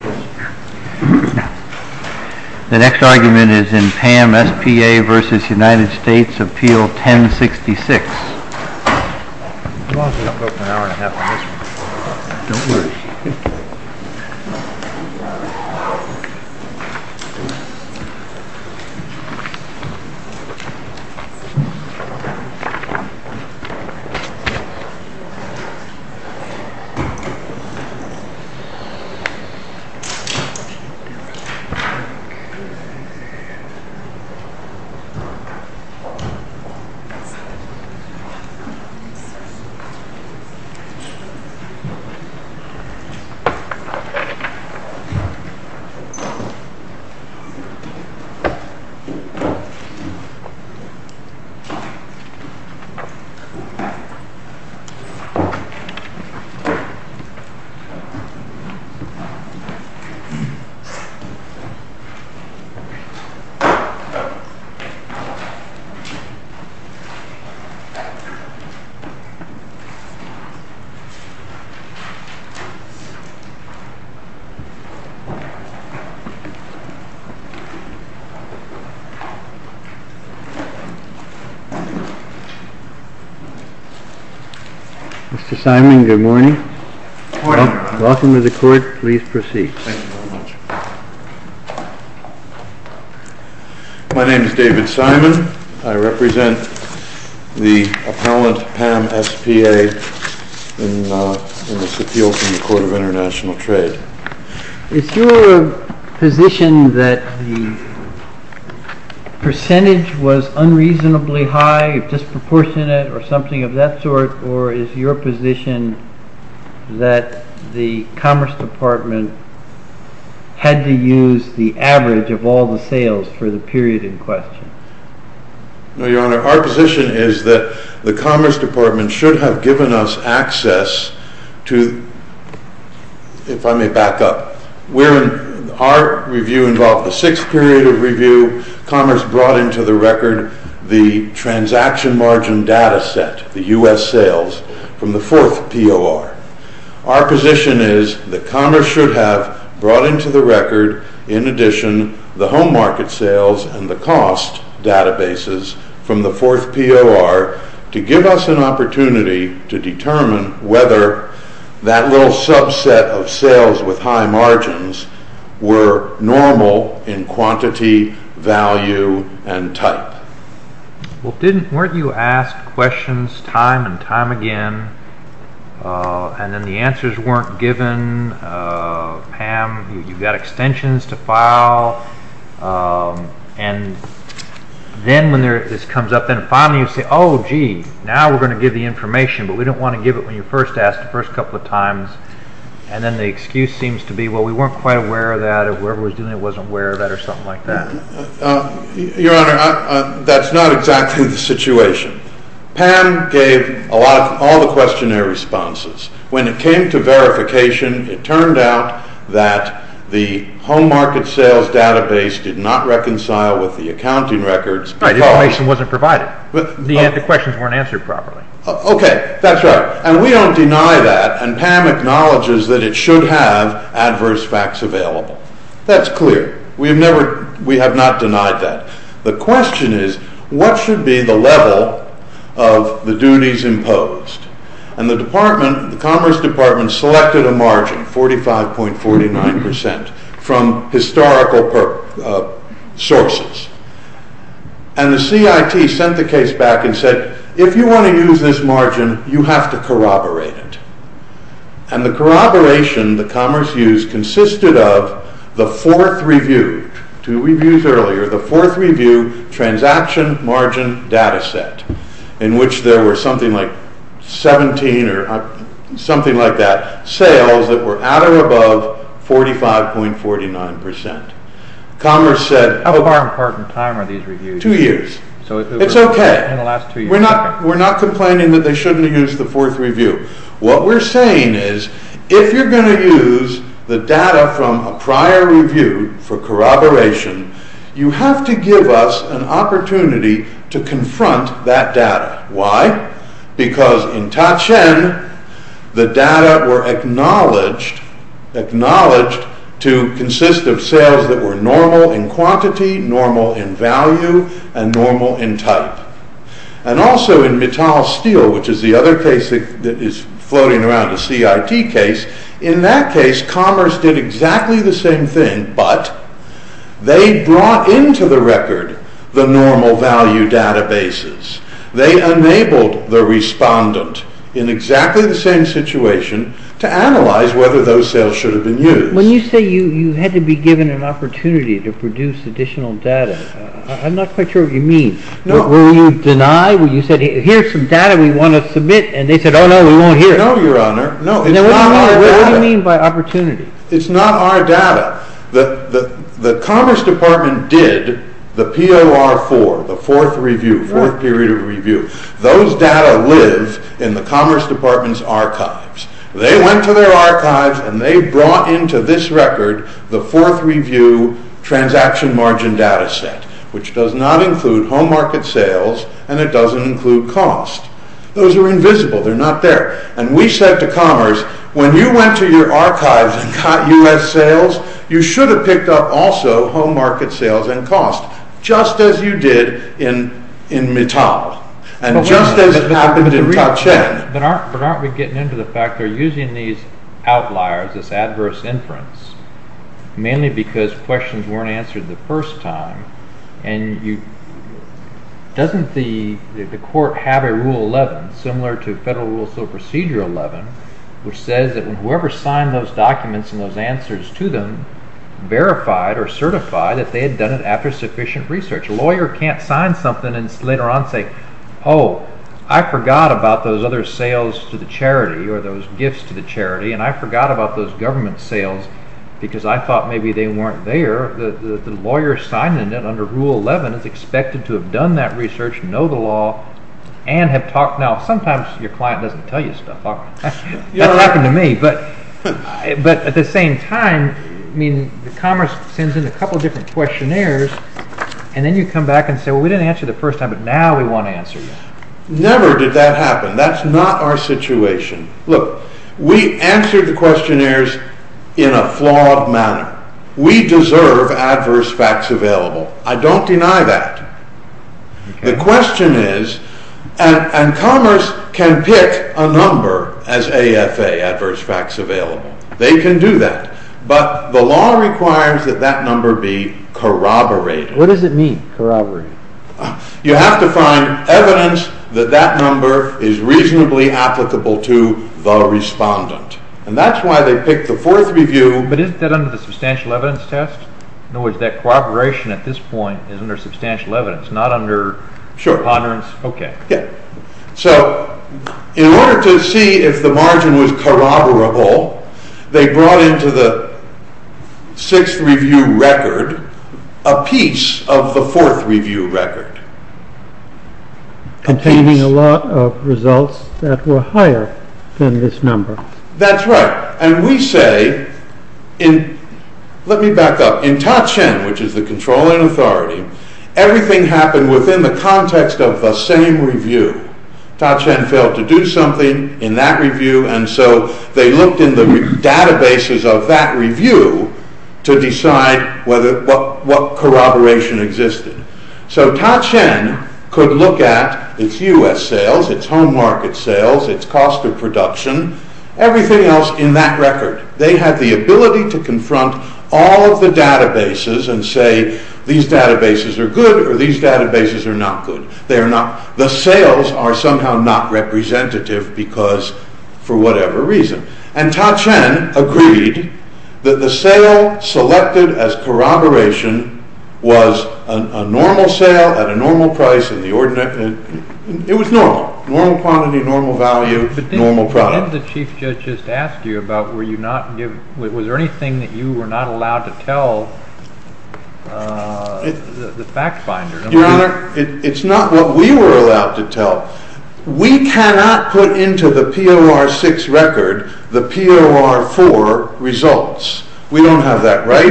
The next argument is in Pam S.P.A. v. United States, Appeal 1066. The next argument is in Pam S.P.A. v. United States, Appeal 1066. Mr. Simon, good morning. Good morning. Welcome to the court. Please proceed. Thank you very much. My name is David Simon. I represent the appellant Pam S.P.A. in this appeal to the Court of International Trade. Is your position that the percentage was unreasonably high, disproportionate, or something of that sort? Or is your position that the Commerce Department had to use the average of all the sales for the period in question? No, Your Honor, our position is that the Commerce Department should have given us access to, if I may back up, our review involved the sixth period of review. Commerce brought into the record the transaction margin data set, the U.S. sales, from the fourth POR. Our position is that Commerce should have brought into the record, in addition, the home market sales and the cost databases from the fourth POR to give us an opportunity to determine whether that little subset of sales with high margins were normal in quantity, value, and type. Weren't you asked questions time and time again, and then the answers weren't given? Pam, you've got extensions to file, and then when this comes up, finally you say, oh, gee, now we're going to give the information, but we don't want to give it when you first asked the first couple of times. And then the excuse seems to be, well, we weren't quite aware of that, or whoever was doing it wasn't aware of that, or something like that. Your Honor, that's not exactly the situation. Pam gave all the questionnaire responses. When it came to verification, it turned out that the home market sales database did not reconcile with the accounting records. Information wasn't provided. The questions weren't answered properly. Okay, that's right. And we don't deny that, and Pam acknowledges that it should have adverse facts available. That's clear. We have not denied that. The question is, what should be the level of the duties imposed? And the Commerce Department selected a margin, 45.49 percent, from historical sources. And the CIT sent the case back and said, if you want to use this margin, you have to corroborate it. And the corroboration that Commerce used consisted of the fourth review, two reviews earlier, the fourth review transaction margin data set, in which there were something like 17 or something like that, sales that were at or above 45.49 percent. Commerce said... How far apart in time are these reviews? Two years. It's okay. We're not complaining that they shouldn't have used the fourth review. What we're saying is, if you're going to use the data from a prior review for corroboration, you have to give us an opportunity to confront that data. Because in Ta-Cheng, the data were acknowledged to consist of sales that were normal in quantity, normal in value, and normal in type. And also in Mittal Steel, which is the other case that is floating around, the CIT case, in that case Commerce did exactly the same thing, but they brought into the record the normal value databases. They enabled the respondent, in exactly the same situation, to analyze whether those sales should have been used. When you say you had to be given an opportunity to produce additional data, I'm not quite sure what you mean. Were you denied? You said, here's some data we want to submit, and they said, oh no, we won't hear it. No, Your Honor. What do you mean by opportunity? It's not our data. The Commerce Department did the POR4, the fourth review, fourth period of review. Those data live in the Commerce Department's archives. They went to their archives and they brought into this record the fourth review transaction margin data set, which does not include home market sales, and it doesn't include cost. Those are invisible. They're not there. And we said to Commerce, when you went to your archives and got U.S. sales, you should have picked up also home market sales and cost, just as you did in Mittal, and just as happened in Ta-Cheng. But aren't we getting into the fact they're using these outliers, this adverse inference, mainly because questions weren't answered the first time, and doesn't the court have a Rule 11, similar to Federal Rules of Procedure 11, which says that whoever signed those documents and those answers to them verified or certified that they had done it after sufficient research. A lawyer can't sign something and later on say, oh, I forgot about those other sales to the charity or those gifts to the charity, and I forgot about those government sales because I thought maybe they weren't there. The lawyer signing it under Rule 11 is expected to have done that research, know the law, and have talked. Now, sometimes your client doesn't tell you stuff. That happened to me. But at the same time, I mean, Commerce sends in a couple of different questionnaires, and then you come back and say, well, we didn't answer the first time, but now we want to answer. Never did that happen. That's not our situation. Look, we answered the questionnaires in a flawed manner. We deserve adverse facts available. I don't deny that. The question is, and Commerce can pick a number as AFA, adverse facts available. They can do that, but the law requires that that number be corroborated. What does it mean, corroborated? You have to find evidence that that number is reasonably applicable to the respondent. And that's why they picked the fourth review. But isn't that under the substantial evidence test? In other words, that corroboration at this point is under substantial evidence, not under preponderance? Sure. Okay. So, in order to see if the margin was corroborable, they brought into the sixth review record a piece of the fourth review record. Containing a lot of results that were higher than this number. That's right. And we say, let me back up. In Ta-Cheng, which is the controlling authority, everything happened within the context of the same review. Ta-Cheng failed to do something in that review, and so they looked in the databases of that review to decide what corroboration existed. So, Ta-Cheng could look at its U.S. sales, its home market sales, its cost of production, everything else in that record. They had the ability to confront all of the databases and say, these databases are good or these databases are not good. The sales are somehow not representative because, for whatever reason. And Ta-Cheng agreed that the sale selected as corroboration was a normal sale at a normal price. It was normal. Normal quantity, normal value, normal product. What did the Chief Judge just ask you about? Was there anything that you were not allowed to tell the fact finder? Your Honor, it's not what we were allowed to tell. We cannot put into the POR6 record the POR4 results. We don't have that, right?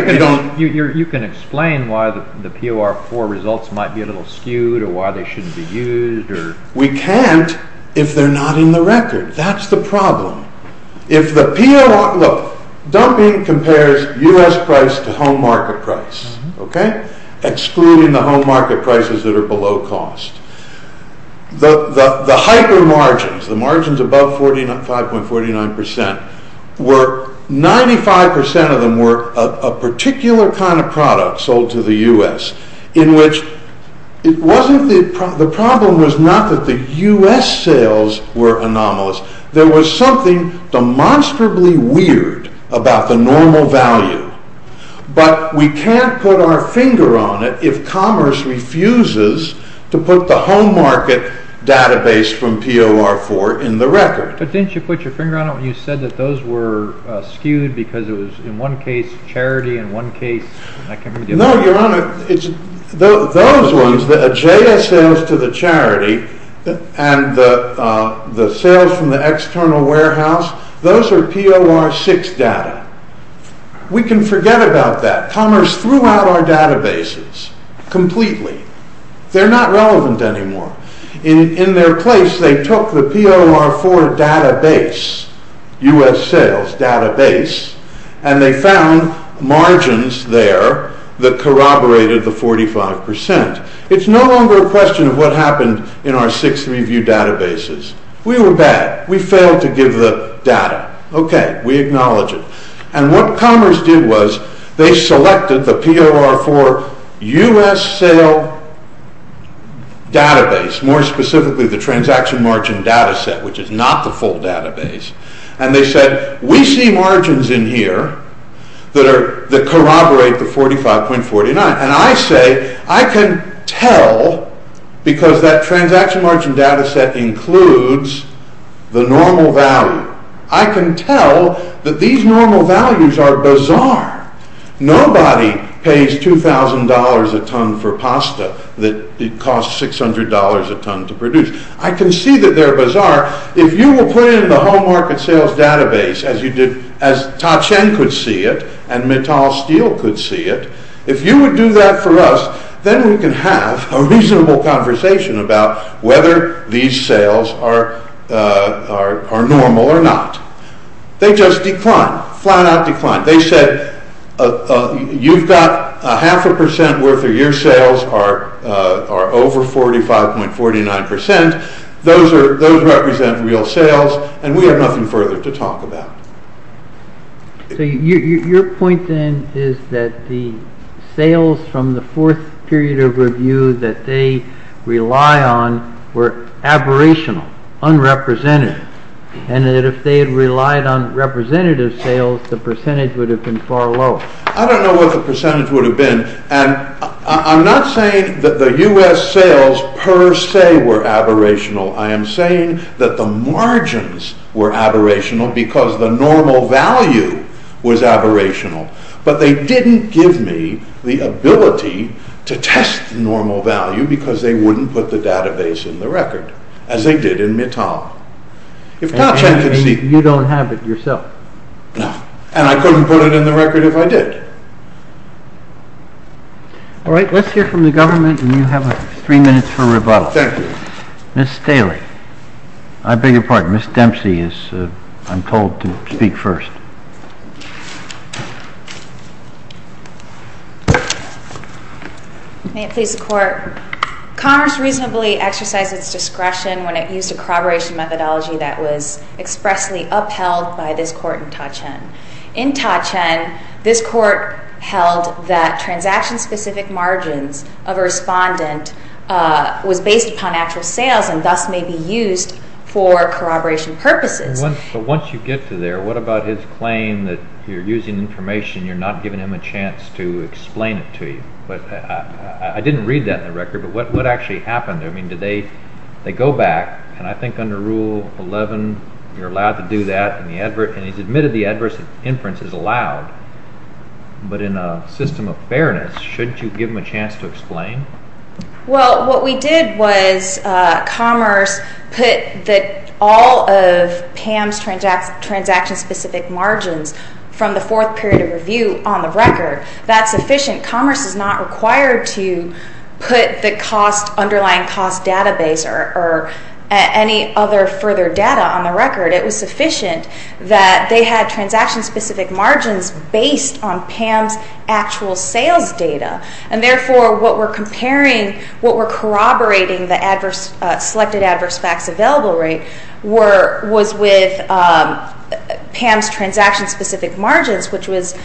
You can explain why the POR4 results might be a little skewed or why they shouldn't be used. We can't if they're not in the record. That's the problem. If the POR, look, dumping compares U.S. price to home market price, okay? Excluding the home market prices that are below cost. The hyper margins, the margins above 5.49% were, 95% of them were a particular kind of product sold to the U.S. The problem was not that the U.S. sales were anomalous. There was something demonstrably weird about the normal value. But we can't put our finger on it if commerce refuses to put the home market database from POR4 in the record. But didn't you put your finger on it when you said that those were skewed because it was in one case charity and one case... No, your honor, those ones, the J.S. sales to the charity and the sales from the external warehouse, those are POR6 data. We can forget about that. Commerce threw out our databases completely. They're not relevant anymore. In their place, they took the POR4 database, U.S. sales database, and they found margins there that corroborated the 45%. It's no longer a question of what happened in our six review databases. We were bad. We failed to give the data. Okay, we acknowledge it. And what commerce did was they selected the POR4 U.S. sale database, more specifically the transaction margin data set, which is not the full database. And they said, we see margins in here that corroborate the 45.49. And I say, I can tell because that transaction margin data set includes the normal value. I can tell that these normal values are bizarre. Nobody pays $2,000 a ton for pasta that costs $600 a ton to produce. I can see that they're bizarre. If you will put it in the home market sales database as you did, as Ta-Cheng could see it, and Mittal Steele could see it, if you would do that for us, then we can have a reasonable conversation about whether these sales are normal or not. They just declined, flat out declined. They said, you've got a half a percent worth of your sales are over 45.49%. Those represent real sales, and we have nothing further to talk about. So your point then is that the sales from the fourth period of review that they rely on were aberrational, unrepresentative. And that if they had relied on representative sales, the percentage would have been far lower. I don't know what the percentage would have been. I'm not saying that the U.S. sales per se were aberrational. I am saying that the margins were aberrational because the normal value was aberrational. But they didn't give me the ability to test the normal value because they wouldn't put the database in the record, as they did in Mittal. If Ta-Cheng could see it. You don't have it yourself. No. And I couldn't put it in the record if I did. All right. Let's hear from the government, and you have three minutes for rebuttal. Thank you. Ms. Staley. I beg your pardon. Ms. Dempsey is, I'm told, to speak first. May it please the Court. Commerce reasonably exercised its discretion when it used a corroboration methodology that was expressly upheld by this Court in Ta-Cheng. In Ta-Cheng, this Court held that transaction-specific margins of a respondent was based upon actual sales and thus may be used for corroboration purposes. But once you get to there, what about his claim that you're using information, you're not giving him a chance to explain it to you? I didn't read that in the record, but what actually happened? I mean, did they go back, and I think under Rule 11 you're allowed to do that, and he's admitted the adverse inference is allowed. But in a system of fairness, shouldn't you give him a chance to explain? Well, what we did was Commerce put all of Pam's transaction-specific margins from the fourth period of review on the record. That's sufficient. Commerce is not required to put the underlying cost database or any other further data on the record. It was sufficient that they had transaction-specific margins based on Pam's actual sales data. And therefore, what we're comparing, what we're corroborating, the selected adverse facts available rate was with Pam's transaction-specific margins, which was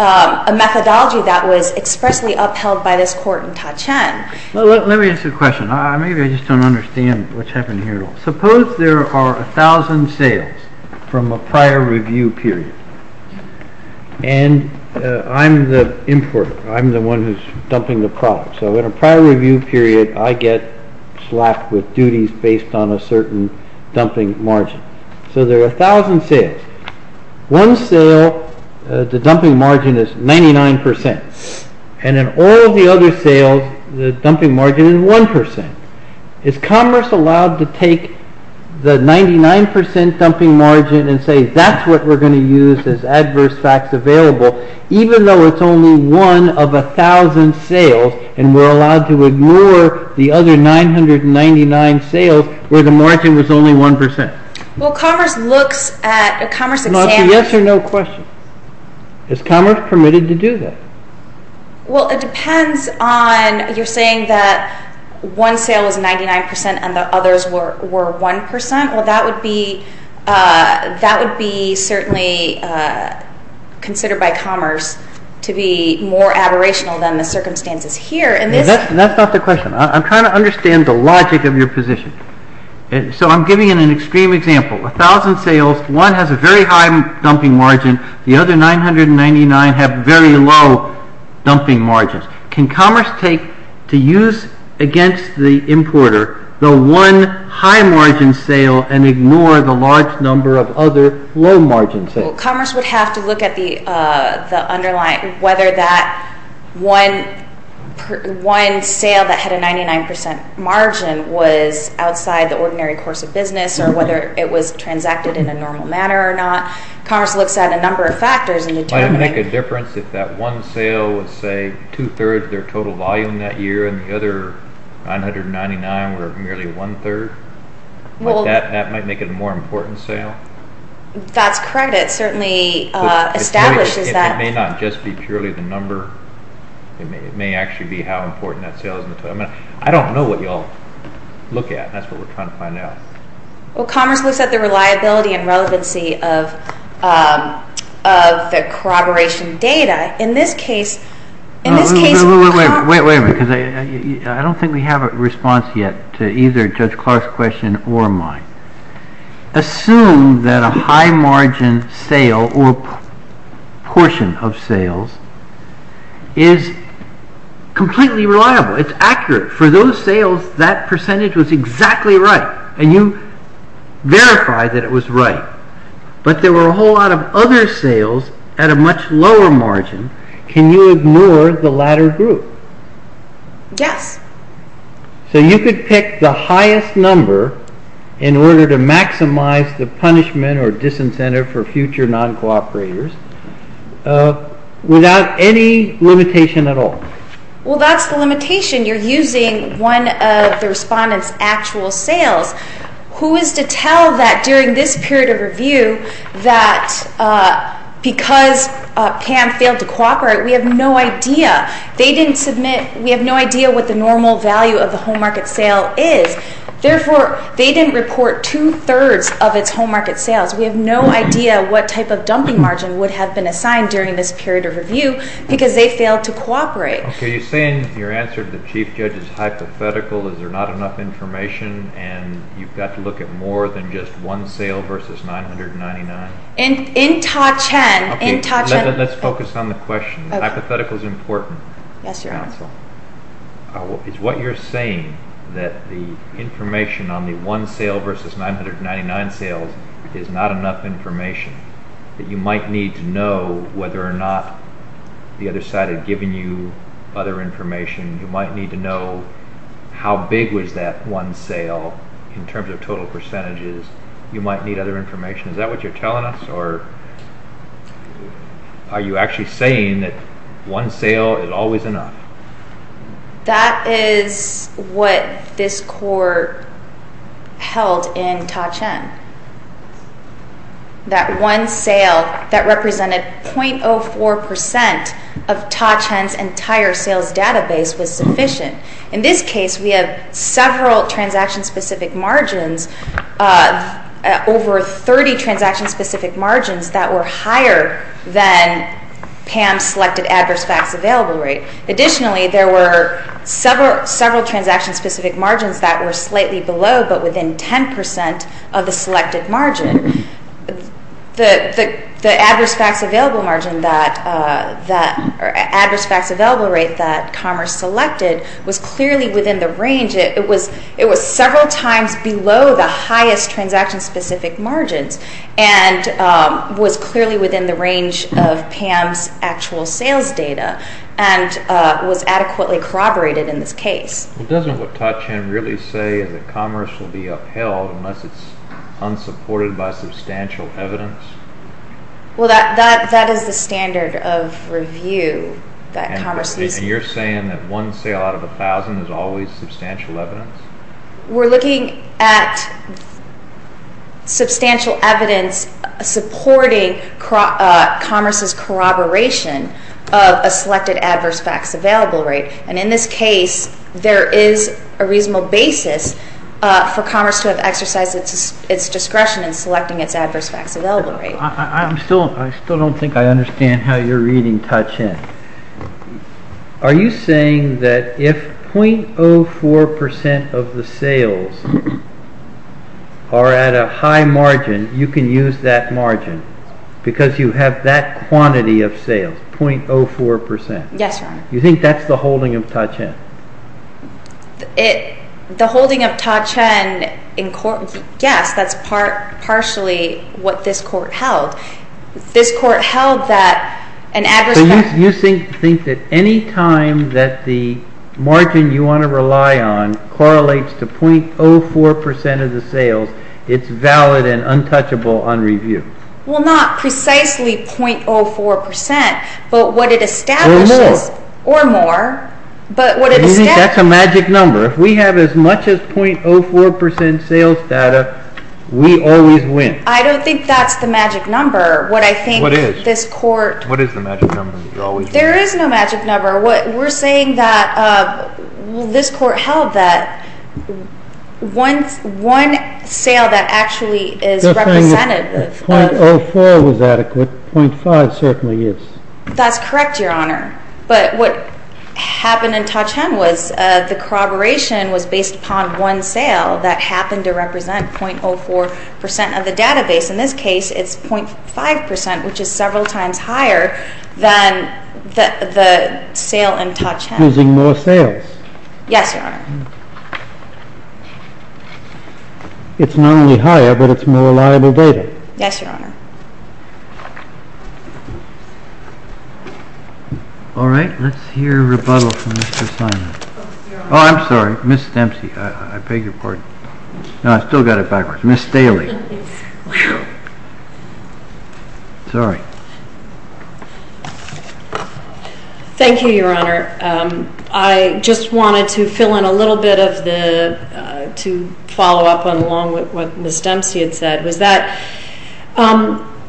a methodology that was expressly upheld by this Court in Ta-Cheng. Let me ask you a question. Maybe I just don't understand what's happening here at all. Suppose there are 1,000 sales from a prior review period, and I'm the importer. I'm the one who's dumping the product. So in a prior review period, I get slapped with duties based on a certain dumping margin. So there are 1,000 sales. One sale, the dumping margin is 99%, and in all the other sales, the dumping margin is 1%. Is Commerce allowed to take the 99% dumping margin and say, that's what we're going to use as adverse facts available, even though it's only one of 1,000 sales, and we're allowed to ignore the other 999 sales where the margin was only 1%? Well, Commerce looks at a Commerce examiner. It's a yes or no question. Is Commerce permitted to do that? Well, it depends on you're saying that one sale is 99% and the others were 1%. Well, that would be certainly considered by Commerce to be more aberrational than the circumstances here. That's not the question. I'm trying to understand the logic of your position. So I'm giving an extreme example. 1,000 sales, one has a very high dumping margin. The other 999 have very low dumping margins. Can Commerce take to use against the importer the one high margin sale and ignore the large number of other low margin sales? Well, Commerce would have to look at the underlying, whether that one sale that had a 99% margin was outside the ordinary course of business or whether it was transacted in a normal manner or not. Commerce looks at a number of factors in determining. Would it make a difference if that one sale was, say, two-thirds their total volume that year and the other 999 were merely one-third? That might make it a more important sale? That's correct. It certainly establishes that. It may not just be purely the number. It may actually be how important that sale is. I don't know what you all look at. That's what we're trying to find out. Well, Commerce looks at the reliability and relevancy of the corroboration data. In this case, Commerce... Wait a minute. I don't think we have a response yet to either Judge Clark's question or mine. Assume that a high margin sale or portion of sales is completely reliable. It's accurate. For those sales, that percentage was exactly right, and you verified that it was right. But there were a whole lot of other sales at a much lower margin. Can you ignore the latter group? Yes. So you could pick the highest number in order to maximize the punishment or disincentive for future non-cooperators without any limitation at all? Well, that's the limitation. You're using one of the respondent's actual sales. Who is to tell that during this period of review that because PAM failed to cooperate, we have no idea? They didn't submit. We have no idea what the normal value of the home market sale is. Therefore, they didn't report two-thirds of its home market sales. We have no idea what type of dumping margin would have been assigned during this period of review because they failed to cooperate. Okay. You're saying your answer to the Chief Judge is hypothetical, is there not enough information, and you've got to look at more than just one sale versus $999? In touch. Okay. Let's focus on the question. Hypothetical is important. Yes, Your Honor. Is what you're saying that the information on the one sale versus $999 sales is not enough information, that you might need to know whether or not the other side had given you other information? You might need to know how big was that one sale in terms of total percentages. You might need other information. Is that what you're telling us, or are you actually saying that one sale is always enough? That is what this court held in Ta-Cheng. That one sale that represented 0.04% of Ta-Cheng's entire sales database was sufficient. In this case, we have several transaction-specific margins, over 30 transaction-specific margins that were higher than PAM's selected adverse facts available rate. Additionally, there were several transaction-specific margins that were slightly below but within 10% of the selected margin. The adverse facts available rate that Commerce selected was clearly within the range. It was several times below the highest transaction-specific margins and was clearly within the range of PAM's actual sales data and was adequately corroborated in this case. Well, doesn't what Ta-Cheng really say is that Commerce will be upheld unless it's unsupported by substantial evidence? Well, that is the standard of review that Commerce uses. So you're saying that one sale out of 1,000 is always substantial evidence? We're looking at substantial evidence supporting Commerce's corroboration of a selected adverse facts available rate. And in this case, there is a reasonable basis for Commerce to have exercised its discretion in selecting its adverse facts available rate. I still don't think I understand how you're reading Ta-Cheng. Are you saying that if 0.04% of the sales are at a high margin, you can use that margin because you have that quantity of sales, 0.04%? Yes, Your Honor. You think that's the holding of Ta-Cheng? The holding of Ta-Cheng, yes, that's partially what this Court held. This Court held that an adverse fact… So you think that any time that the margin you want to rely on correlates to 0.04% of the sales, it's valid and untouchable on review? Well, not precisely 0.04%, but what it establishes… Or more. That's a magic number. If we have as much as 0.04% sales data, we always win. I don't think that's the magic number. What I think this Court… What is? What is the magic number? There is no magic number. We're saying that this Court held that one sale that actually is representative of… 0.04 was adequate. 0.5 certainly is. That's correct, Your Honor. But what happened in Ta-Cheng was the corroboration was based upon one sale that happened to represent 0.04% of the database. In this case, it's 0.5%, which is several times higher than the sale in Ta-Cheng. Using more sales. Yes, Your Honor. It's not only higher, but it's more reliable data. Yes, Your Honor. All right. Let's hear a rebuttal from Mr. Simon. Oh, I'm sorry. Ms. Dempsey. I beg your pardon. No, I still got it backwards. Ms. Staley. Sorry. Thank you, Your Honor. I just wanted to fill in a little bit of the… to follow up on along with what Ms. Dempsey had said.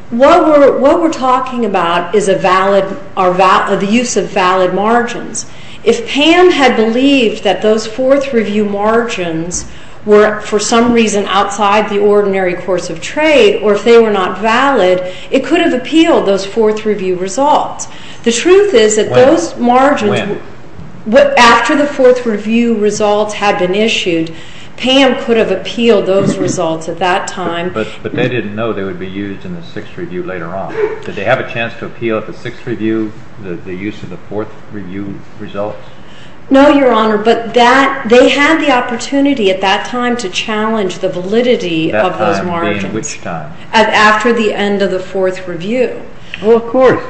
What we're talking about is the use of valid margins. If Pam had believed that those fourth review margins were for some reason outside the ordinary course of trade, or if they were not valid, it could have appealed those fourth review results. The truth is that those margins… When? After the fourth review results had been issued, Pam could have appealed those results at that time. But they didn't know they would be used in the sixth review later on. Did they have a chance to appeal at the sixth review the use of the fourth review results? No, Your Honor. But they had the opportunity at that time to challenge the validity of those margins. That time being which time? After the end of the fourth review. Well, of course.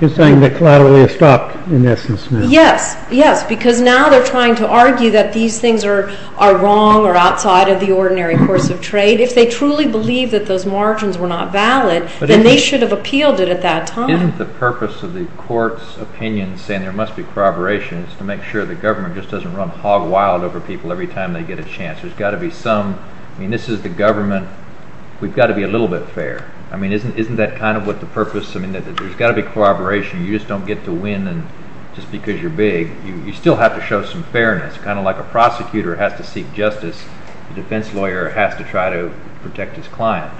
You're saying that collaterally has stopped in essence now. Yes, yes. Because now they're trying to argue that these things are wrong or outside of the ordinary course of trade. If they truly believe that those margins were not valid, then they should have appealed it at that time. Isn't the purpose of the court's opinion saying there must be corroboration is to make sure the government just doesn't run hog wild over people every time they get a chance? There's got to be some… I mean, this is the government. We've got to be a little bit fair. I mean, isn't that kind of what the purpose… I mean, there's got to be corroboration. You just don't get to win just because you're big. You still have to show some fairness, kind of like a prosecutor has to seek justice. A defense lawyer has to try to protect his client.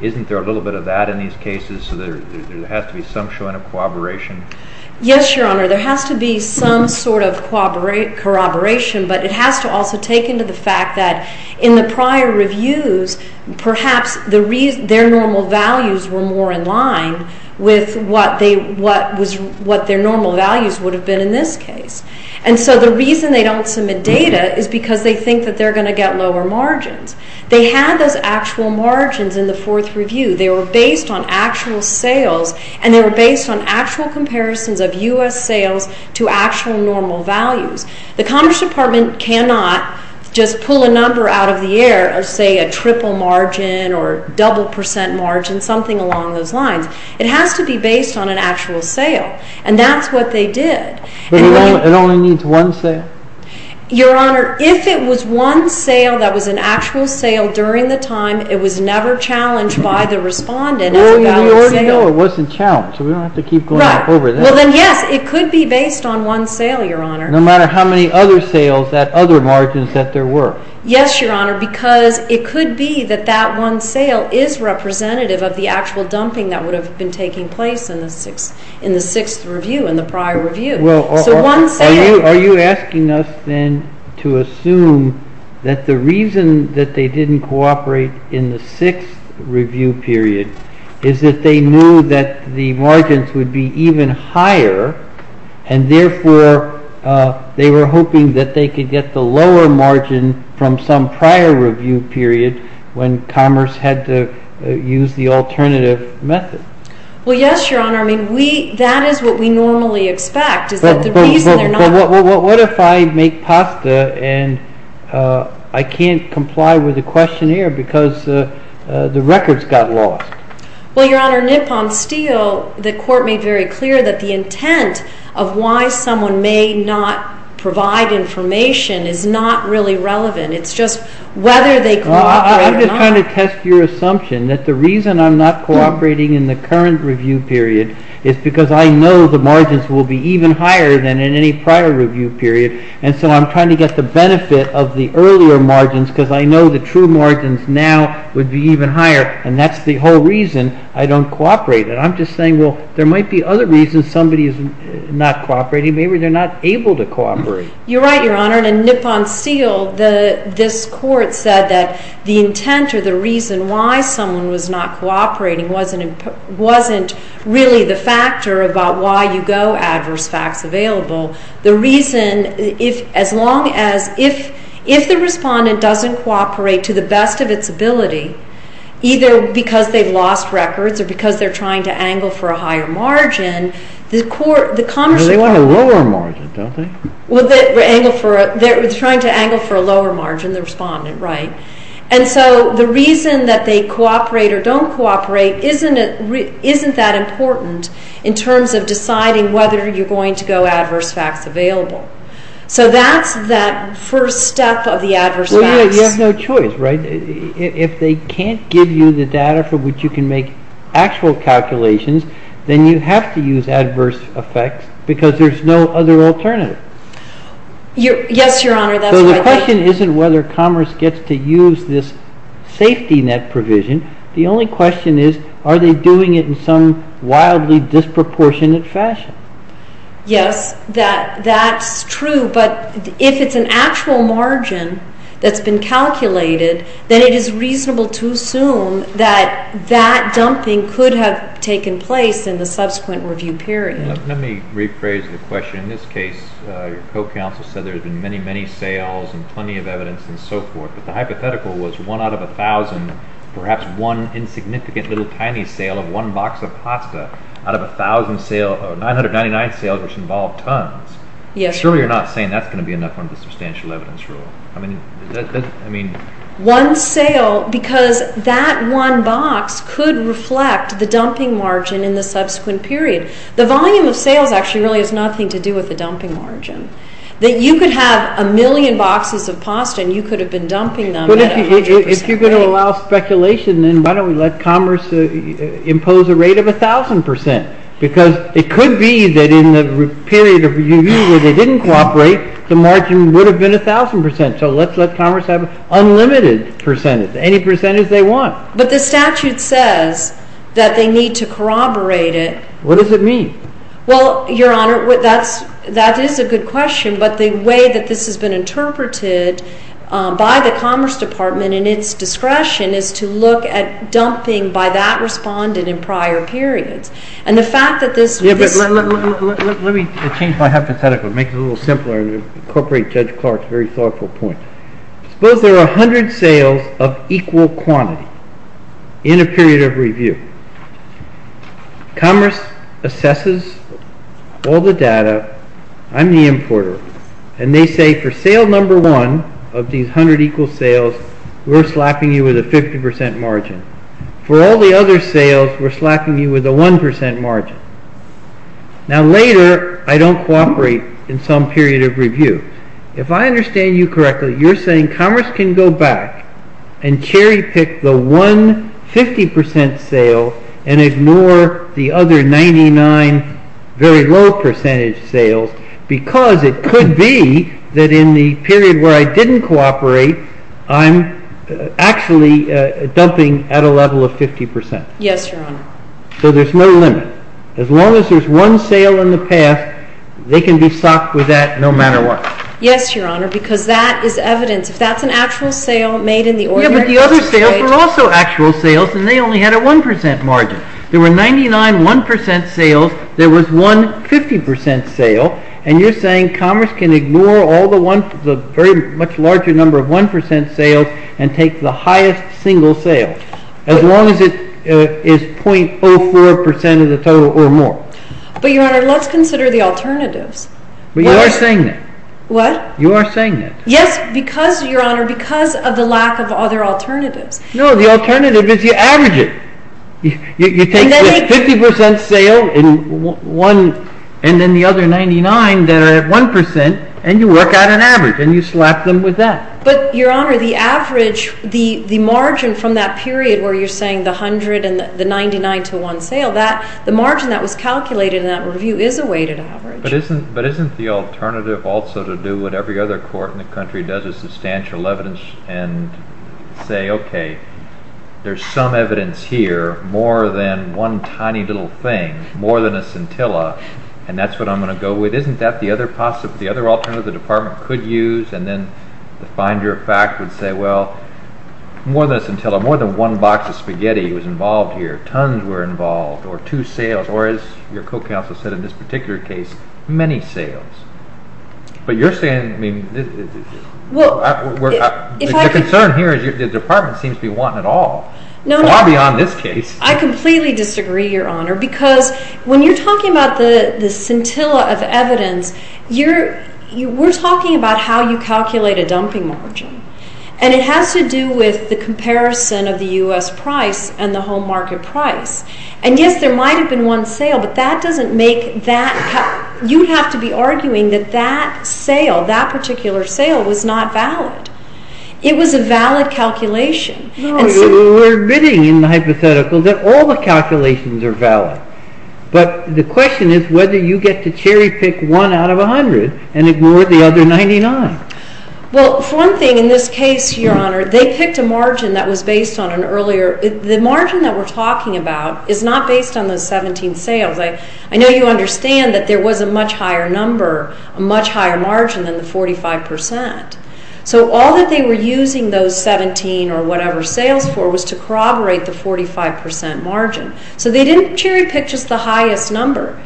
Isn't there a little bit of that in these cases so there has to be some showing of corroboration? Yes, Your Honor. There has to be some sort of corroboration, but it has to also take into the fact that in the prior reviews, perhaps their normal values were more in line with what their normal values would have been in this case. And so the reason they don't submit data is because they think that they're going to get lower margins. They had those actual margins in the fourth review. They were based on actual sales, and they were based on actual comparisons of U.S. sales to actual normal values. The Commerce Department cannot just pull a number out of the air or say a triple margin or double percent margin, something along those lines. It has to be based on an actual sale, and that's what they did. But it only needs one sale? Your Honor, if it was one sale that was an actual sale during the time, it was never challenged by the respondent as a valid sale. Well, we already know it wasn't challenged, so we don't have to keep going back over that. Well, then yes, it could be based on one sale, Your Honor. No matter how many other sales, that other margin that there were. Yes, Your Honor, because it could be that that one sale is representative of the actual dumping that would have been taking place in the sixth review, in the prior review. Well, are you asking us then to assume that the reason that they didn't cooperate in the sixth review period is that they knew that the margins would be even higher, and therefore they were hoping that they could get the lower margin from some prior review period when Commerce had to use the alternative method? Well, yes, Your Honor. I mean, that is what we normally expect, is that the reason they're not... But what if I make pasta and I can't comply with the questionnaire because the records got lost? Well, Your Honor, Nippon Steel, the court made very clear that the intent of why someone may not provide information is not really relevant. It's just whether they cooperate or not. Well, I'm just trying to test your assumption that the reason I'm not cooperating in the current review period is because I know the margins will be even higher than in any prior review period, and so I'm trying to get the benefit of the earlier margins because I know the true margins now would be even higher, and that's the whole reason I don't cooperate. And I'm just saying, well, there might be other reasons somebody is not cooperating. You're right, Your Honor. In Nippon Steel, this court said that the intent or the reason why someone was not cooperating wasn't really the factor about why you go adverse facts available. The reason, as long as, if the respondent doesn't cooperate to the best of its ability, either because they've lost records or because they're trying to angle for a higher margin, Well, they want a lower margin, don't they? They're trying to angle for a lower margin, the respondent, right. And so the reason that they cooperate or don't cooperate isn't that important in terms of deciding whether you're going to go adverse facts available. So that's that first step of the adverse facts. Well, you have no choice, right? If they can't give you the data for which you can make actual calculations, then you have to use adverse effects because there's no other alternative. Yes, Your Honor, that's right. So the question isn't whether Commerce gets to use this safety net provision. The only question is, are they doing it in some wildly disproportionate fashion? Yes, that's true. But if it's an actual margin that's been calculated, then it is reasonable to assume that that dumping could have taken place in the subsequent review period. Let me rephrase the question. In this case, your co-counsel said there had been many, many sales and plenty of evidence and so forth. But the hypothetical was one out of 1,000, perhaps one insignificant little tiny sale of one box of pasta out of 1,000 sales or 999 sales, which involved tons. Yes, Your Honor. Surely you're not saying that's going to be enough under the substantial evidence rule. I mean... One sale because that one box could reflect the dumping margin in the subsequent period. The volume of sales actually really has nothing to do with the dumping margin. You could have a million boxes of pasta and you could have been dumping them at a 50% rate. But if you're going to allow speculation, then why don't we let Commerce impose a rate of 1,000%? Because it could be that in the period of review where they didn't cooperate, the margin would have been 1,000%. So let's let Commerce have unlimited percentage, any percentage they want. But the statute says that they need to corroborate it. What does it mean? Well, Your Honor, that is a good question. But the way that this has been interpreted by the Commerce Department in its discretion is to look at dumping by that respondent in prior periods. And the fact that this... Let me change my hypothetical and make it a little simpler and incorporate Judge Clark's very thoughtful point. Suppose there are 100 sales of equal quantity in a period of review. Commerce assesses all the data. I'm the importer. And they say for sale number one of these 100 equal sales, we're slapping you with a 50% margin. For all the other sales, we're slapping you with a 1% margin. Now later, I don't cooperate in some period of review. If I understand you correctly, you're saying Commerce can go back and cherry pick the one 50% sale and ignore the other 99 very low percentage sales because it could be that in the period where I didn't cooperate, I'm actually dumping at a level of 50%. Yes, Your Honor. So there's no limit. As long as there's one sale in the past, they can be socked with that no matter what. Yes, Your Honor, because that is evidence. If that's an actual sale made in the ordinary... Yeah, but the other sales were also actual sales and they only had a 1% margin. There were 99 1% sales. There was one 50% sale. And you're saying Commerce can ignore all the very much larger number of 1% sales and take the highest single sale. As long as it is 0.04% of the total or more. But, Your Honor, let's consider the alternatives. But you are saying that. What? You are saying that. Yes, Your Honor, because of the lack of other alternatives. No, the alternative is you average it. You take the 50% sale and then the other 99 that are at 1% and you work out an average and you slap them with that. But, Your Honor, the average, the margin from that period where you're saying the 100 and the 99 to 1 sale, the margin that was calculated in that review is a weighted average. But isn't the alternative also to do what every other court in the country does is substantial evidence and say, okay, there's some evidence here more than one tiny little thing, more than a scintilla, and that's what I'm going to go with. Isn't that the other alternative the department could use? And then the finder of fact would say, well, more than a scintilla, more than one box of spaghetti was involved here, tons were involved, or two sales, or as your co-counsel said in this particular case, many sales. But you're saying, I mean, the concern here is the department seems to be wanting it all. No, no. Far beyond this case. I completely disagree, Your Honor, because when you're talking about the scintilla of evidence, we're talking about how you calculate a dumping margin. And it has to do with the comparison of the U.S. price and the home market price. And, yes, there might have been one sale, but that doesn't make that. You have to be arguing that that sale, that particular sale, was not valid. It was a valid calculation. No, we're admitting in the hypothetical that all the calculations are valid. But the question is whether you get to cherry pick one out of 100 and ignore the other 99. Well, for one thing, in this case, Your Honor, they picked a margin that was based on an earlier. The margin that we're talking about is not based on the 17 sales. I know you understand that there was a much higher number, a much higher margin than the 45 percent. So all that they were using those 17 or whatever sales for was to corroborate the 45 percent margin. So they didn't cherry pick just the highest number.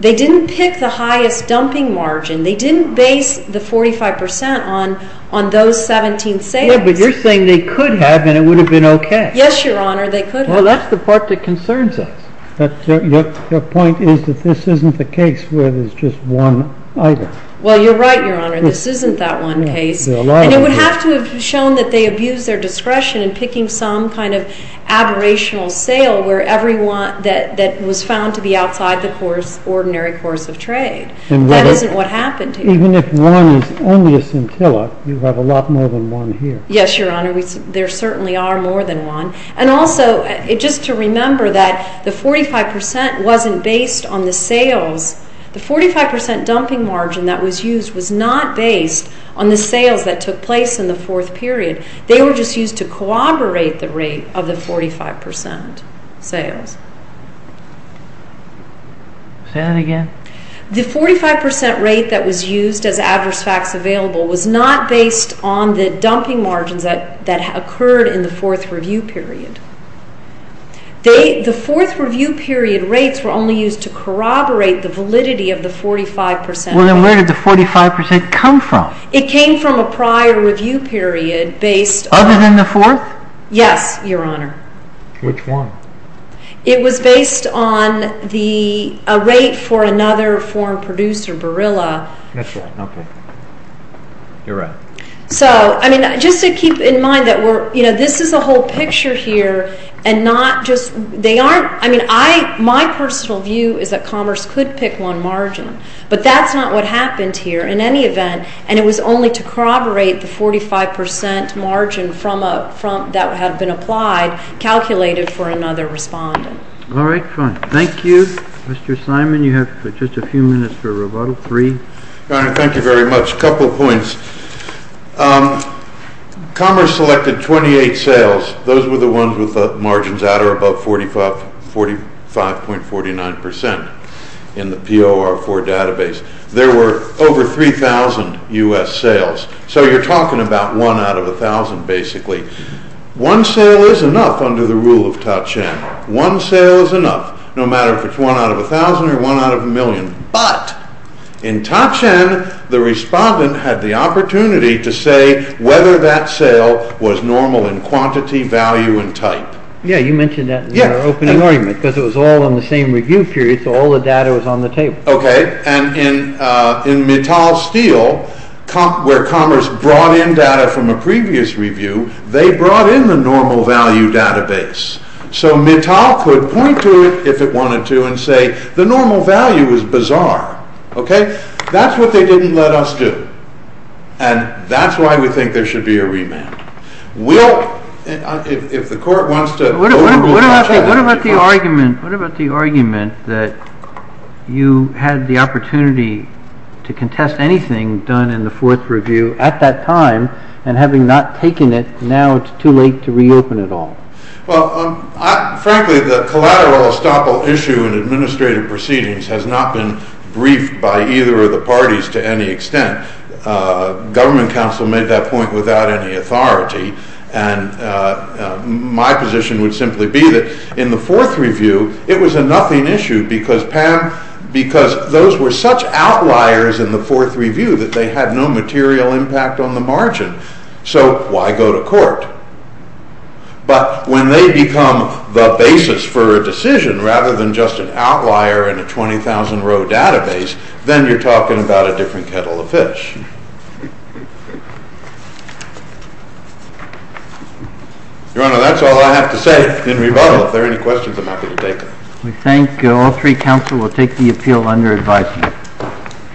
They didn't pick the highest dumping margin. They didn't base the 45 percent on those 17 sales. Yeah, but you're saying they could have, and it would have been okay. Yes, Your Honor, they could have. Well, that's the part that concerns us. Your point is that this isn't the case where there's just one item. Well, you're right, Your Honor. This isn't that one case. And it would have to have shown that they abused their discretion in picking some kind of aberrational sale that was found to be outside the ordinary course of trade. That isn't what happened here. Even if one is only a scintilla, you have a lot more than one here. Yes, Your Honor, there certainly are more than one. And also, just to remember that the 45 percent wasn't based on the sales. The 45 percent dumping margin that was used was not based on the sales that took place in the fourth period. They were just used to corroborate the rate of the 45 percent sales. Say that again? The 45 percent rate that was used as adverse facts available was not based on the dumping margins that occurred in the fourth review period. The fourth review period rates were only used to corroborate the validity of the 45 percent. Well, then where did the 45 percent come from? It came from a prior review period based on... Other than the fourth? Yes, Your Honor. Which one? It was based on a rate for another foreign producer, Borilla. That's right. Okay. You're right. So, I mean, just to keep in mind that we're... You know, this is a whole picture here and not just... They aren't... I mean, my personal view is that Commerce could pick one margin. But that's not what happened here in any event. And it was only to corroborate the 45 percent margin that had been applied calculated for another respondent. All right, fine. Thank you. Mr. Simon, you have just a few minutes for rebuttal. Three. Your Honor, thank you very much. A couple of points. Commerce selected 28 sales. Those were the ones with margins that are above 45.49 percent in the POR4 database. There were over 3,000 U.S. sales. So you're talking about one out of a thousand, basically. One sale is enough under the rule of Tochen. One sale is enough, no matter if it's one out of a thousand or one out of a million. But in Tochen, the respondent had the opportunity to say whether that sale was normal in quantity, value, and type. Yeah, you mentioned that in your opening argument because it was all on the same review period, so all the data was on the table. Okay. And in Mittal Steel, where Commerce brought in data from a previous review, they brought in the normal value database. So Mittal could point to it, if it wanted to, and say the normal value is bizarre. Okay? That's what they didn't let us do. And that's why we think there should be a remand. We'll, if the Court wants to overrule Tochen. What about the argument that you had the opportunity to contest anything done in the fourth review at that time, and having not taken it, now it's too late to reopen it all? Well, frankly, the collateral estoppel issue in administrative proceedings has not been briefed by either of the parties to any extent. Government counsel made that point without any authority. And my position would simply be that in the fourth review, it was a nothing issue because, Pam, because those were such outliers in the fourth review that they had no material impact on the margin. So why go to court? But when they become the basis for a decision, rather than just an outlier in a 20,000 row database, then you're talking about a different kettle of fish. Your Honor, that's all I have to say in rebuttal. If there are any questions, I'm not going to take them. We thank all three counsel. We'll take the appeal under advisement.